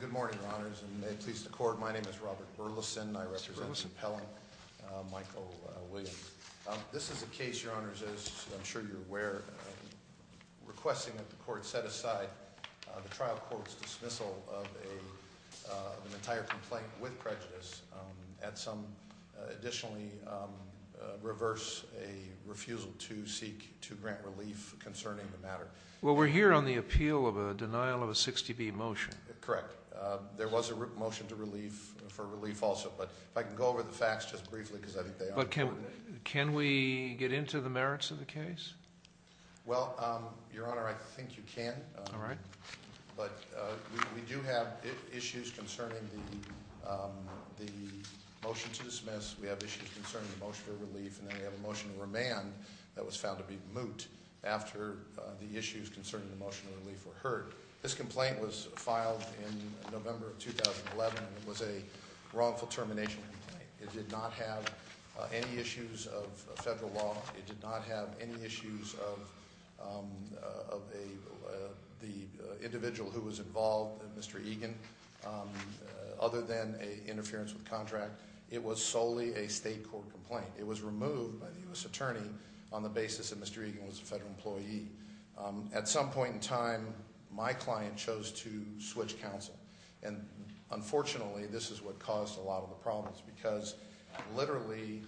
Good morning, Your Honors, and may it please the Court, my name is Robert Burleson and I represent Mr. Pellin, Michael Williams. This is a case, Your Honors, as I'm sure you're aware, requesting that the Court set aside the trial court's dismissal of an entire complaint with prejudice and some, additionally, reverse a refusal to seek, to grant relief concerning the matter. Well, we're here on the appeal of a denial of a 60B motion. Correct. There was a motion for relief also, but if I can go over the facts just briefly because I think they are important. But can we get into the merits of the case? Well, Your Honor, I think you can. All right. But we do have issues concerning the motion to dismiss, we have issues concerning the motion for relief, and then we have a motion to remand that was found to be moot after the issues concerning the motion of relief were heard. This complaint was filed in November of 2011 and it was a wrongful termination complaint. It did not have any issues of federal law. It did not have any issues of the individual who was involved, Mr. Egan, other than interference with contract. It was solely a state court complaint. It was removed by the U.S. attorney on the basis that Mr. Egan was a federal employee. At some point in time, my client chose to switch counsel. And, unfortunately, this is what caused a lot of the problems because, literally,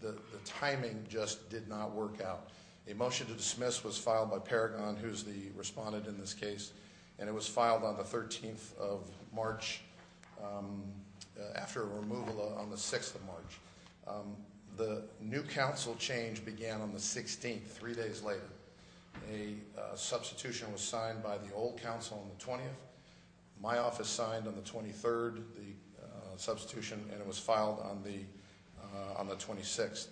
the timing just did not work out. A motion to dismiss was filed by Paragon, who's the respondent in this case, and it was filed on the 13th of March after a removal on the 6th of March. The new counsel change began on the 16th, three days later. A substitution was signed by the old counsel on the 20th. My office signed on the 23rd the substitution, and it was filed on the 26th.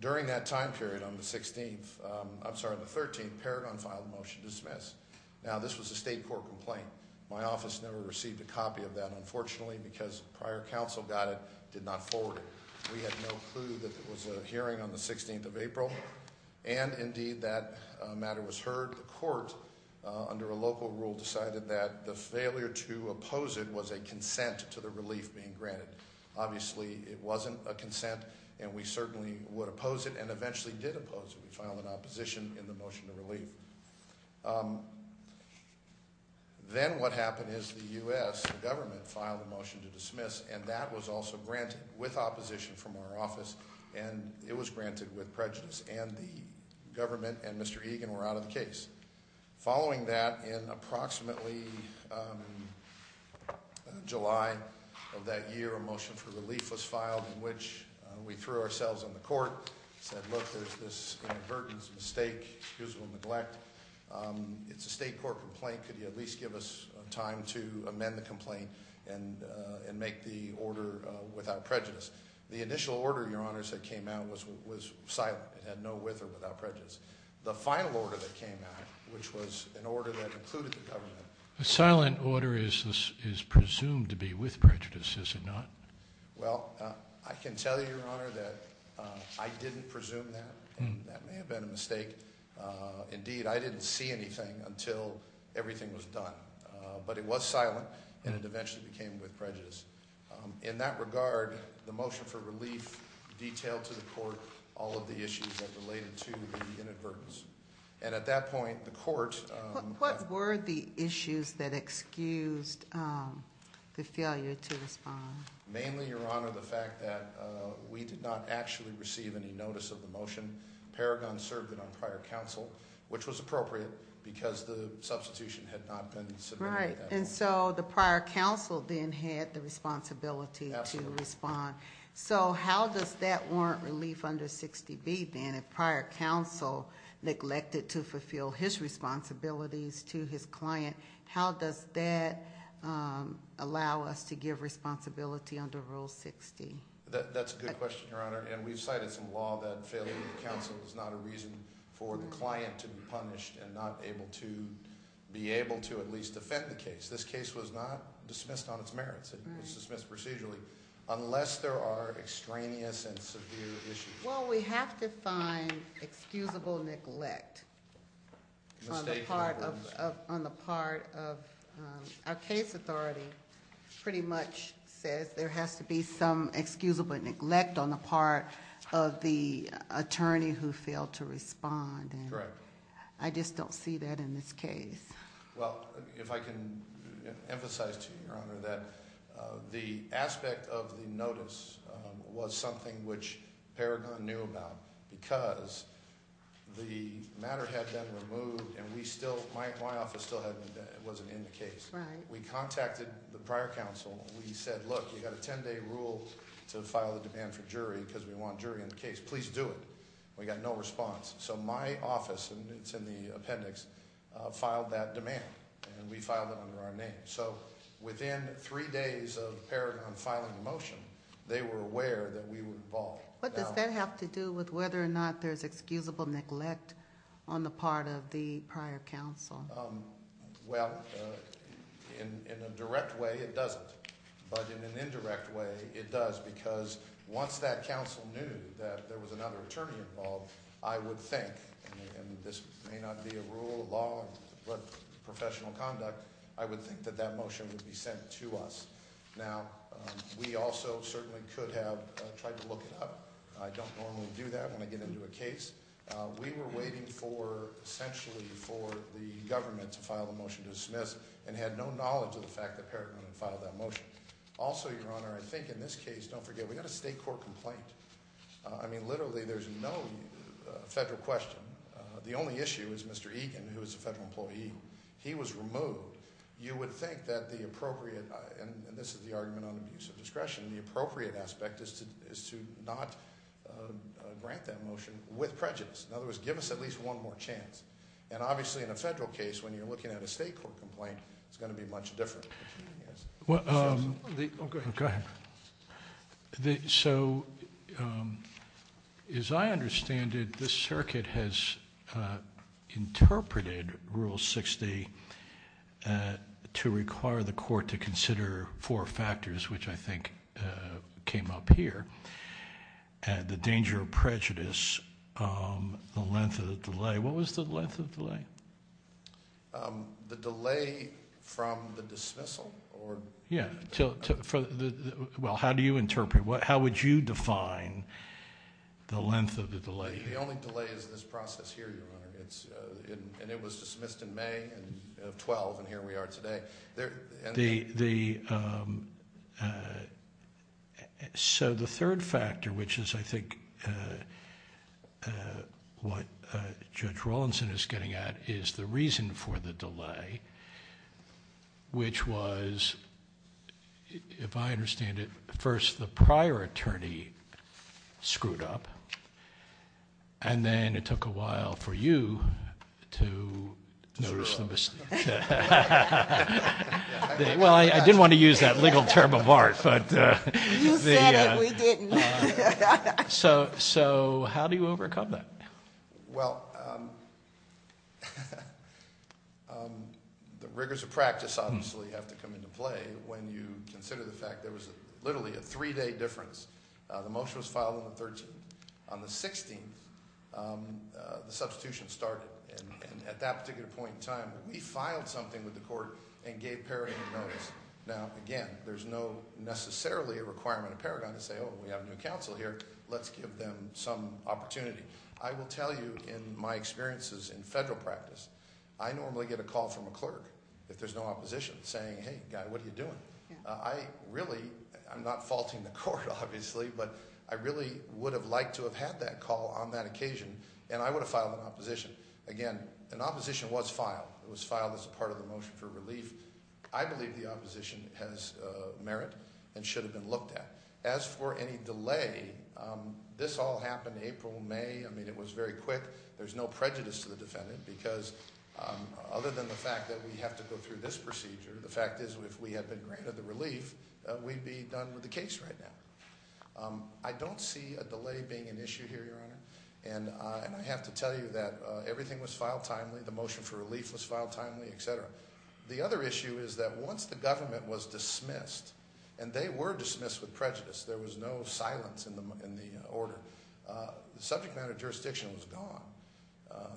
During that time period on the 13th, Paragon filed a motion to dismiss. Now, this was a state court complaint. My office never received a copy of that, unfortunately, because prior counsel got it, did not forward it. We had no clue that there was a hearing on the 16th of April, and, indeed, that matter was heard. The court, under a local rule, decided that the failure to oppose it was a consent to the relief being granted. Obviously, it wasn't a consent, and we certainly would oppose it and eventually did oppose it. We filed an opposition in the motion to relieve. Then what happened is the U.S. government filed a motion to dismiss, and that was also granted with opposition from our office, and it was granted with prejudice, and the government and Mr. Egan were out of the case. Following that, in approximately July of that year, a motion for relief was filed, in which we threw ourselves on the court and said, look, there's this inadvertent mistake, excusable neglect. It's a state court complaint. Could you at least give us time to amend the complaint and make the order without prejudice? The initial order, Your Honors, that came out was silent. It had no with or without prejudice. The final order that came out, which was an order that included the government- A silent order is presumed to be with prejudice, is it not? Well, I can tell you, Your Honor, that I didn't presume that, and that may have been a mistake. Indeed, I didn't see anything until everything was done. But it was silent, and it eventually became with prejudice. In that regard, the motion for relief detailed to the court all of the issues that related to the inadvertence. And at that point, the court- What were the issues that excused the failure to respond? Mainly, Your Honor, the fact that we did not actually receive any notice of the motion. Paragon served it on prior counsel, which was appropriate because the substitution had not been submitted. Right, and so the prior counsel then had the responsibility to respond. So how does that warrant relief under 60B, then? If prior counsel neglected to fulfill his responsibilities to his client, how does that allow us to give responsibility under Rule 60? That's a good question, Your Honor. And we've cited some law that failure of counsel is not a reason for the client to be punished and not able to be able to at least defend the case. This case was not dismissed on its merits. It was dismissed procedurally, unless there are extraneous and severe issues. Well, we have to find excusable neglect on the part of our case authority. Pretty much says there has to be some excusable neglect on the part of the attorney who failed to respond. Correct. I just don't see that in this case. Well, if I can emphasize to you, Your Honor, that the aspect of the notice was something which Paragon knew about. Because the matter had been removed and my office still wasn't in the case. Right. We contacted the prior counsel. We said, look, you've got a ten-day rule to file a demand for jury because we want jury in the case. Please do it. We got no response. So my office, and it's in the appendix, filed that demand, and we filed it under our name. So within three days of Paragon filing the motion, they were aware that we were involved. What does that have to do with whether or not there's excusable neglect on the part of the prior counsel? Well, in a direct way, it doesn't. But in an indirect way, it does, because once that counsel knew that there was another attorney involved, I would think, and this may not be a rule of law but professional conduct, I would think that that motion would be sent to us. Now, we also certainly could have tried to look it up. I don't normally do that when I get into a case. We were waiting for, essentially, for the government to file the motion to dismiss and had no knowledge of the fact that Paragon had filed that motion. Also, Your Honor, I think in this case, don't forget, we got a state court complaint. I mean, literally, there's no federal question. The only issue is Mr. Egan, who is a federal employee. He was removed. You would think that the appropriate, and this is the argument on abuse of discretion, the appropriate aspect is to not grant that motion with prejudice. In other words, give us at least one more chance. And obviously, in a federal case, when you're looking at a state court complaint, it's going to be much different. Go ahead. So, as I understand it, the circuit has interpreted Rule 60 to require the court to consider four factors, which I think came up here, the danger of prejudice, the length of the delay. The delay from the dismissal? Yeah. Well, how do you interpret it? How would you define the length of the delay? The only delay is this process here, Your Honor. And it was dismissed in May of 2012, and here we are today. So, the third factor, which is, I think, what Judge Rawlinson is getting at, is the reason for the delay, which was, if I understand it, first the prior attorney screwed up, and then it took a while for you to notice the mistake. Well, I didn't want to use that legal term of art. You said it. We didn't. So, how do you overcome that? Well, the rigors of practice obviously have to come into play when you consider the fact there was literally a three-day difference. The motion was filed on the 13th. On the 16th, the substitution started. And at that particular point in time, we filed something with the court and gave Paragon notice. Now, again, there's no necessarily a requirement of Paragon to say, oh, we have a new counsel here. Let's give them some opportunity. I will tell you in my experiences in federal practice, I normally get a call from a clerk if there's no opposition saying, hey, guy, what are you doing? I really, I'm not faulting the court, obviously, but I really would have liked to have had that call on that occasion, and I would have filed an opposition. Again, an opposition was filed. It was filed as part of the motion for relief. I believe the opposition has merit and should have been looked at. As for any delay, this all happened April, May. I mean, it was very quick. There's no prejudice to the defendant because other than the fact that we have to go through this procedure, the fact is if we had been granted the relief, we'd be done with the case right now. And I have to tell you that everything was filed timely. The motion for relief was filed timely, et cetera. The other issue is that once the government was dismissed, and they were dismissed with prejudice, there was no silence in the order. The subject matter of jurisdiction was gone.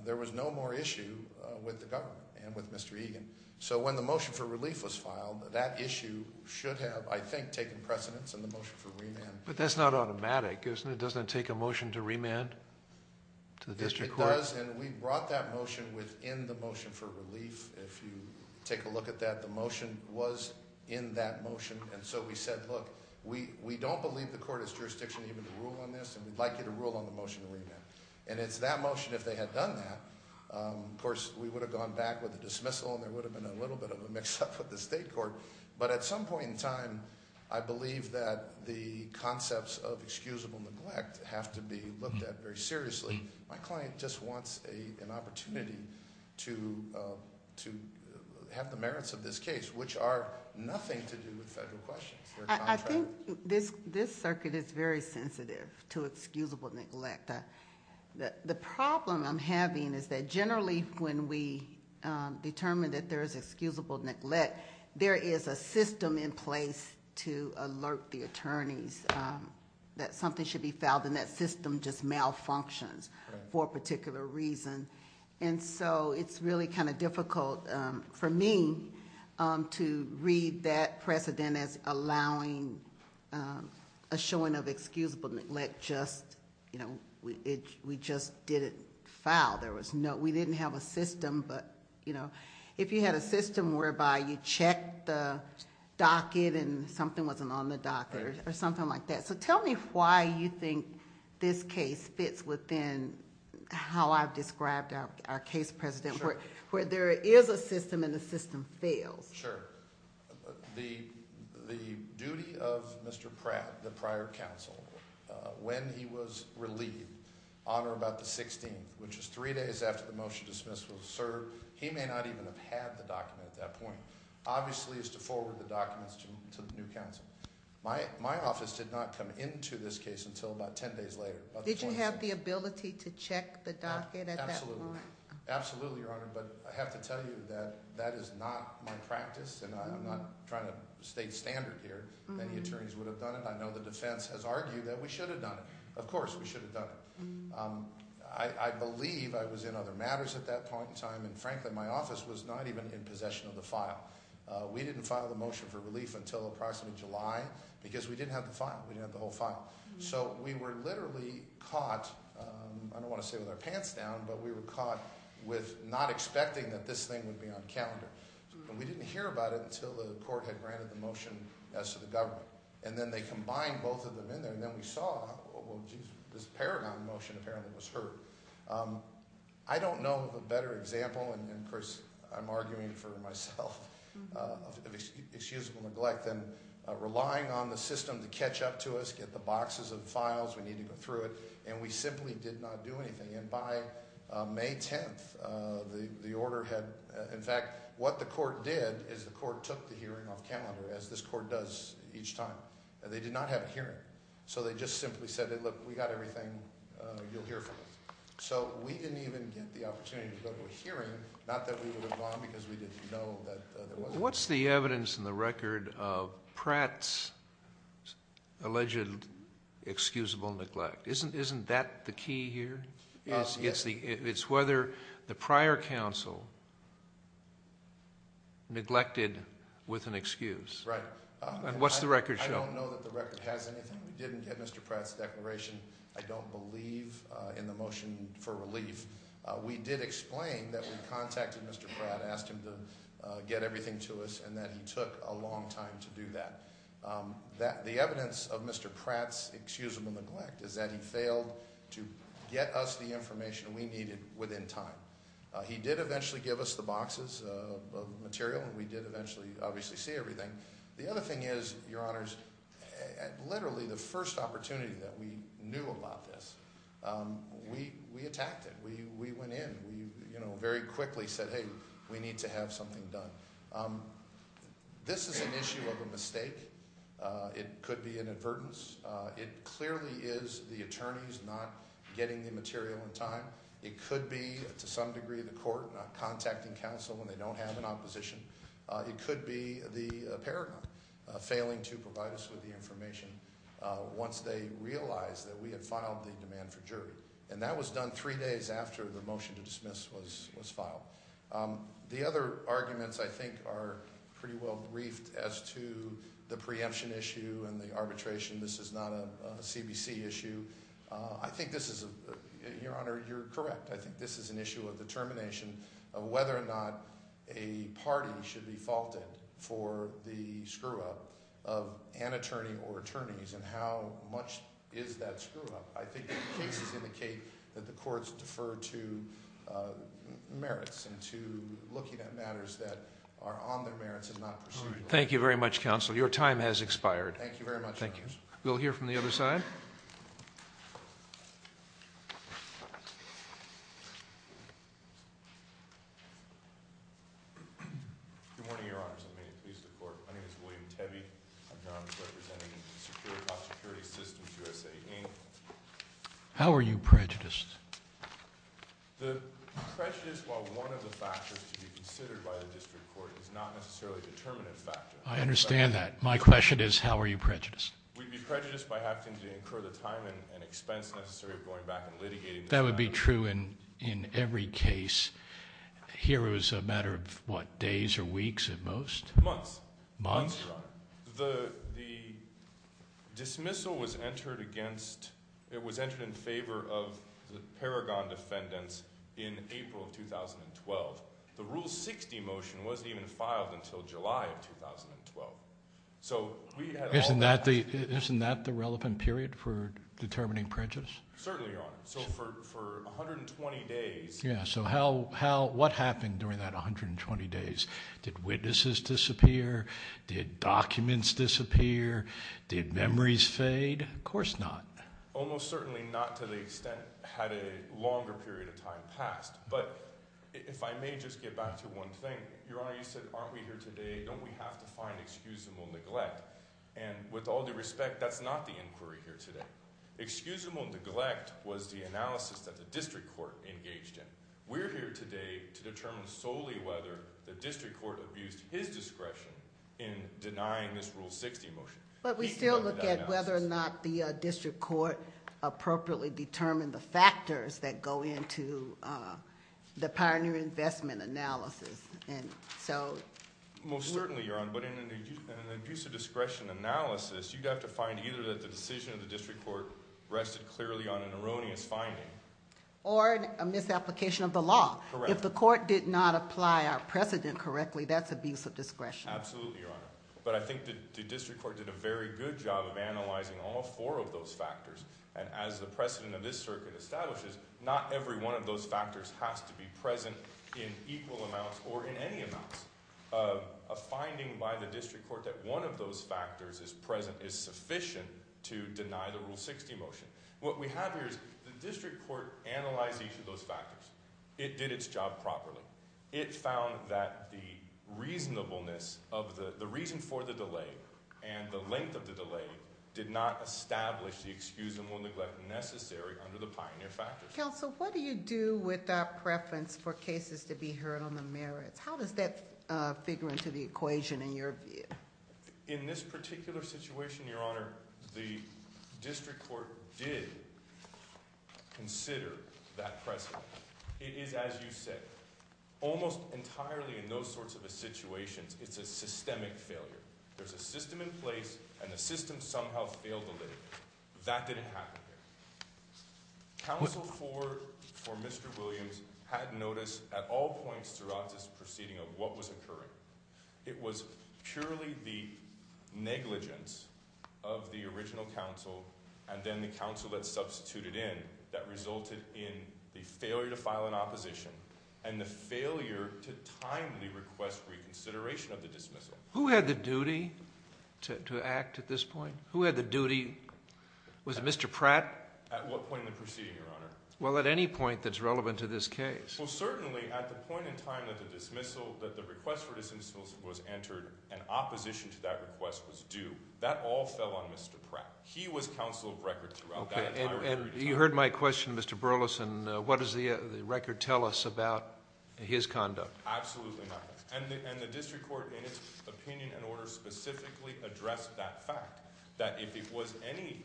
There was no more issue with the government and with Mr. Egan. So when the motion for relief was filed, that issue should have, I think, taken precedence in the motion for remand. But that's not automatic, isn't it? It doesn't take a motion to remand to the district court? It does, and we brought that motion within the motion for relief. If you take a look at that, the motion was in that motion. And so we said, look, we don't believe the court has jurisdiction even to rule on this, and we'd like you to rule on the motion to remand. And it's that motion if they had done that. Of course, we would have gone back with a dismissal, and there would have been a little bit of a mix-up with the state court. But at some point in time, I believe that the concepts of excusable neglect have to be looked at very seriously. My client just wants an opportunity to have the merits of this case, which are nothing to do with federal questions. I think this circuit is very sensitive to excusable neglect. The problem I'm having is that generally when we determine that there is excusable neglect, there is a system in place to alert the attorneys that something should be filed, and that system just malfunctions for a particular reason. And so it's really kind of difficult for me to read that precedent as allowing a showing of excusable neglect just, you know, we just didn't file. There was no, we didn't have a system. But, you know, if you had a system whereby you checked the docket and something wasn't on the docket or something like that. So tell me why you think this case fits within how I've described our case precedent, where there is a system and the system fails. Sure. The duty of Mr. Pratt, the prior counsel, when he was relieved on or about the 16th, which is three days after the motion to dismiss was served, he may not even have had the document at that point, obviously is to forward the documents to the new counsel. My office did not come into this case until about ten days later. Did you have the ability to check the docket at that point? Absolutely. Absolutely, Your Honor. But I have to tell you that that is not my practice. And I'm not trying to state standard here. Many attorneys would have done it. I know the defense has argued that we should have done it. Of course, we should have done it. I believe I was in other matters at that point in time. And frankly, my office was not even in possession of the file. We didn't file the motion for relief until approximately July because we didn't have the file. We didn't have the whole file. So we were literally caught, I don't want to say with our pants down, but we were caught with not expecting that this thing would be on calendar. And we didn't hear about it until the court had granted the motion as to the government. And then they combined both of them in there. And then we saw, well, geez, this Paragon motion apparently was heard. I don't know of a better example, and of course I'm arguing for myself, of excusable neglect than relying on the system to catch up to us, get the boxes of files, we need to go through it. And we simply did not do anything. And by May 10th, the order had, in fact, what the court did is the court took the hearing off calendar, as this court does each time. They did not have a hearing. So they just simply said, look, we got everything, you'll hear from us. So we didn't even get the opportunity to go to a hearing, not that we would have gone because we didn't know that there was one. So what's the evidence in the record of Pratt's alleged excusable neglect? Isn't that the key here? It's whether the prior counsel neglected with an excuse. Right. And what's the record show? I don't know that the record has anything. We didn't get Mr. Pratt's declaration. I don't believe in the motion for relief. We did explain that we contacted Mr. Pratt, asked him to get everything to us, and that he took a long time to do that. The evidence of Mr. Pratt's excusable neglect is that he failed to get us the information we needed within time. He did eventually give us the boxes of material, and we did eventually obviously see everything. The other thing is, Your Honors, literally the first opportunity that we knew about this, we attacked it. We went in. We very quickly said, hey, we need to have something done. This is an issue of a mistake. It could be an advertence. It clearly is the attorneys not getting the material in time. It could be, to some degree, the court not contacting counsel when they don't have an opposition. It could be the paragon failing to provide us with the information once they realized that we had filed the demand for jury. And that was done three days after the motion to dismiss was filed. The other arguments, I think, are pretty well briefed as to the preemption issue and the arbitration. This is not a CBC issue. I think this is a – Your Honor, you're correct. I think this is an issue of determination of whether or not a party should be faulted for the screw-up of an attorney or attorneys and how much is that screw-up. I think the cases indicate that the courts defer to merits and to looking at matters that are on their merits and not pursuant. Thank you very much, counsel. Your time has expired. Thank you very much. Thank you. We'll hear from the other side. Good morning, Your Honors. My name is William Tebbe. I'm here on behalf of Security Systems USA, Inc. How are you prejudiced? The prejudice, while one of the factors to be considered by the district court, is not necessarily a determinative factor. I understand that. My question is how are you prejudiced? We'd be prejudiced by having to incur the time and expense necessary of going back and litigating. That would be true in every case. Here it was a matter of what, days or weeks at most? Months. Months? The dismissal was entered in favor of the Paragon defendants in April of 2012. The Rule 60 motion wasn't even filed until July of 2012. Isn't that the relevant period for determining prejudice? Certainly, Your Honor. For 120 days. What happened during that 120 days? Did witnesses disappear? Did documents disappear? Did memories fade? Of course not. Almost certainly not to the extent had a longer period of time passed. If I may just get back to one thing. Your Honor, you said, aren't we here today, don't we have to find excusable neglect? With all due respect, that's not the inquiry here today. Excusable neglect was the analysis that the district court engaged in. We're here today to determine solely whether the district court abused his discretion in denying this Rule 60 motion. But we still look at whether or not the district court appropriately determined the factors that go into the Pioneer Investment analysis. Most certainly, Your Honor. But in an abuse of discretion analysis, you'd have to find either that the decision of the district court rested clearly on an erroneous finding. Or a misapplication of the law. Correct. If the court did not apply our precedent correctly, that's abuse of discretion. Absolutely, Your Honor. But I think the district court did a very good job of analyzing all four of those factors. And as the precedent of this circuit establishes, not every one of those factors has to be present in equal amounts or in any amounts. A finding by the district court that one of those factors is present is sufficient to deny the Rule 60 motion. What we have here is the district court analyzed each of those factors. It did its job properly. It found that the reasonableness of the, the reason for the delay and the length of the delay did not establish the excusable neglect necessary under the pioneer factors. Counsel, what do you do with that preference for cases to be heard on the merits? How does that figure into the equation in your view? In this particular situation, Your Honor, the district court did consider that precedent. It is as you said, almost entirely in those sorts of situations, it's a systemic failure. There's a system in place and the system somehow failed to live. That didn't happen here. Counsel for, for Mr. Williams had noticed at all points throughout this proceeding of what was occurring. It was purely the negligence of the original counsel and then the counsel that substituted in that resulted in the failure to file an opposition and the failure to timely request reconsideration of the dismissal. Who had the duty to, to act at this point? Who had the duty? Was it Mr. Pratt? At what point in the proceeding, Your Honor? Well, at any point that's relevant to this case. Well, certainly at the point in time that the dismissal, that the request for dismissal was entered and opposition to that request was due, that all fell on Mr. Pratt. He was counsel of record throughout that entire period of time. Okay, and you heard my question, Mr. Burleson. What does the record tell us about his conduct? Absolutely not. And the district court in its opinion and order specifically addressed that fact, that if it was any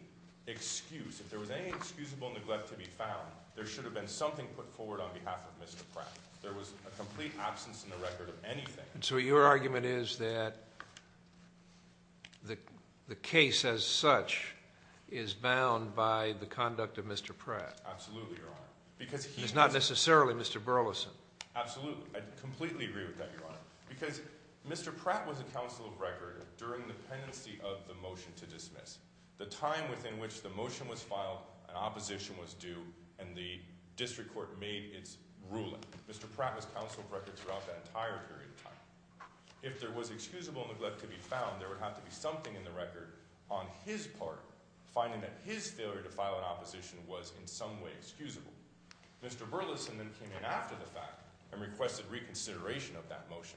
excuse, if there was any excusable neglect to be found, there should have been something put forward on behalf of Mr. Pratt. There was a complete absence in the record of anything. And so your argument is that the case as such is bound by the conduct of Mr. Pratt. Absolutely, Your Honor. It's not necessarily Mr. Burleson. Absolutely. I completely agree with that, Your Honor. Because Mr. Pratt was a counsel of record during the pendency of the motion to dismiss. The time within which the motion was filed and opposition was due and the district court made its ruling, Mr. Pratt was counsel of record throughout that entire period of time. If there was excusable neglect to be found, there would have to be something in the record on his part, finding that his failure to file an opposition was in some way excusable. Mr. Burleson then came in after the fact and requested reconsideration of that motion.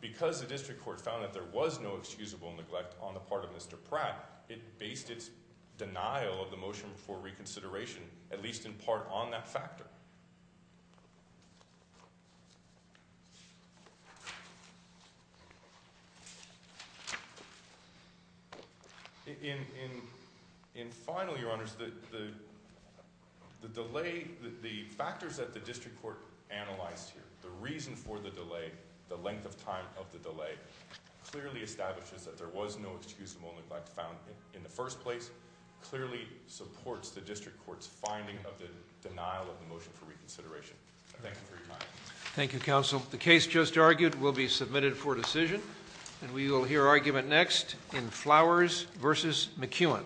Because the district court found that there was no excusable neglect on the part of Mr. Pratt, it based its denial of the motion for reconsideration at least in part on that factor. In final, Your Honors, the delay, the factors that the district court analyzed here, the reason for the delay, the length of time of the delay, clearly establishes that there was no excusable neglect found in the first place, clearly supports the district court's finding of the denial of the motion for reconsideration. Thank you for your time. Thank you, counsel. The case just argued will be submitted for decision. And we will hear argument next in Flowers v. McEwen.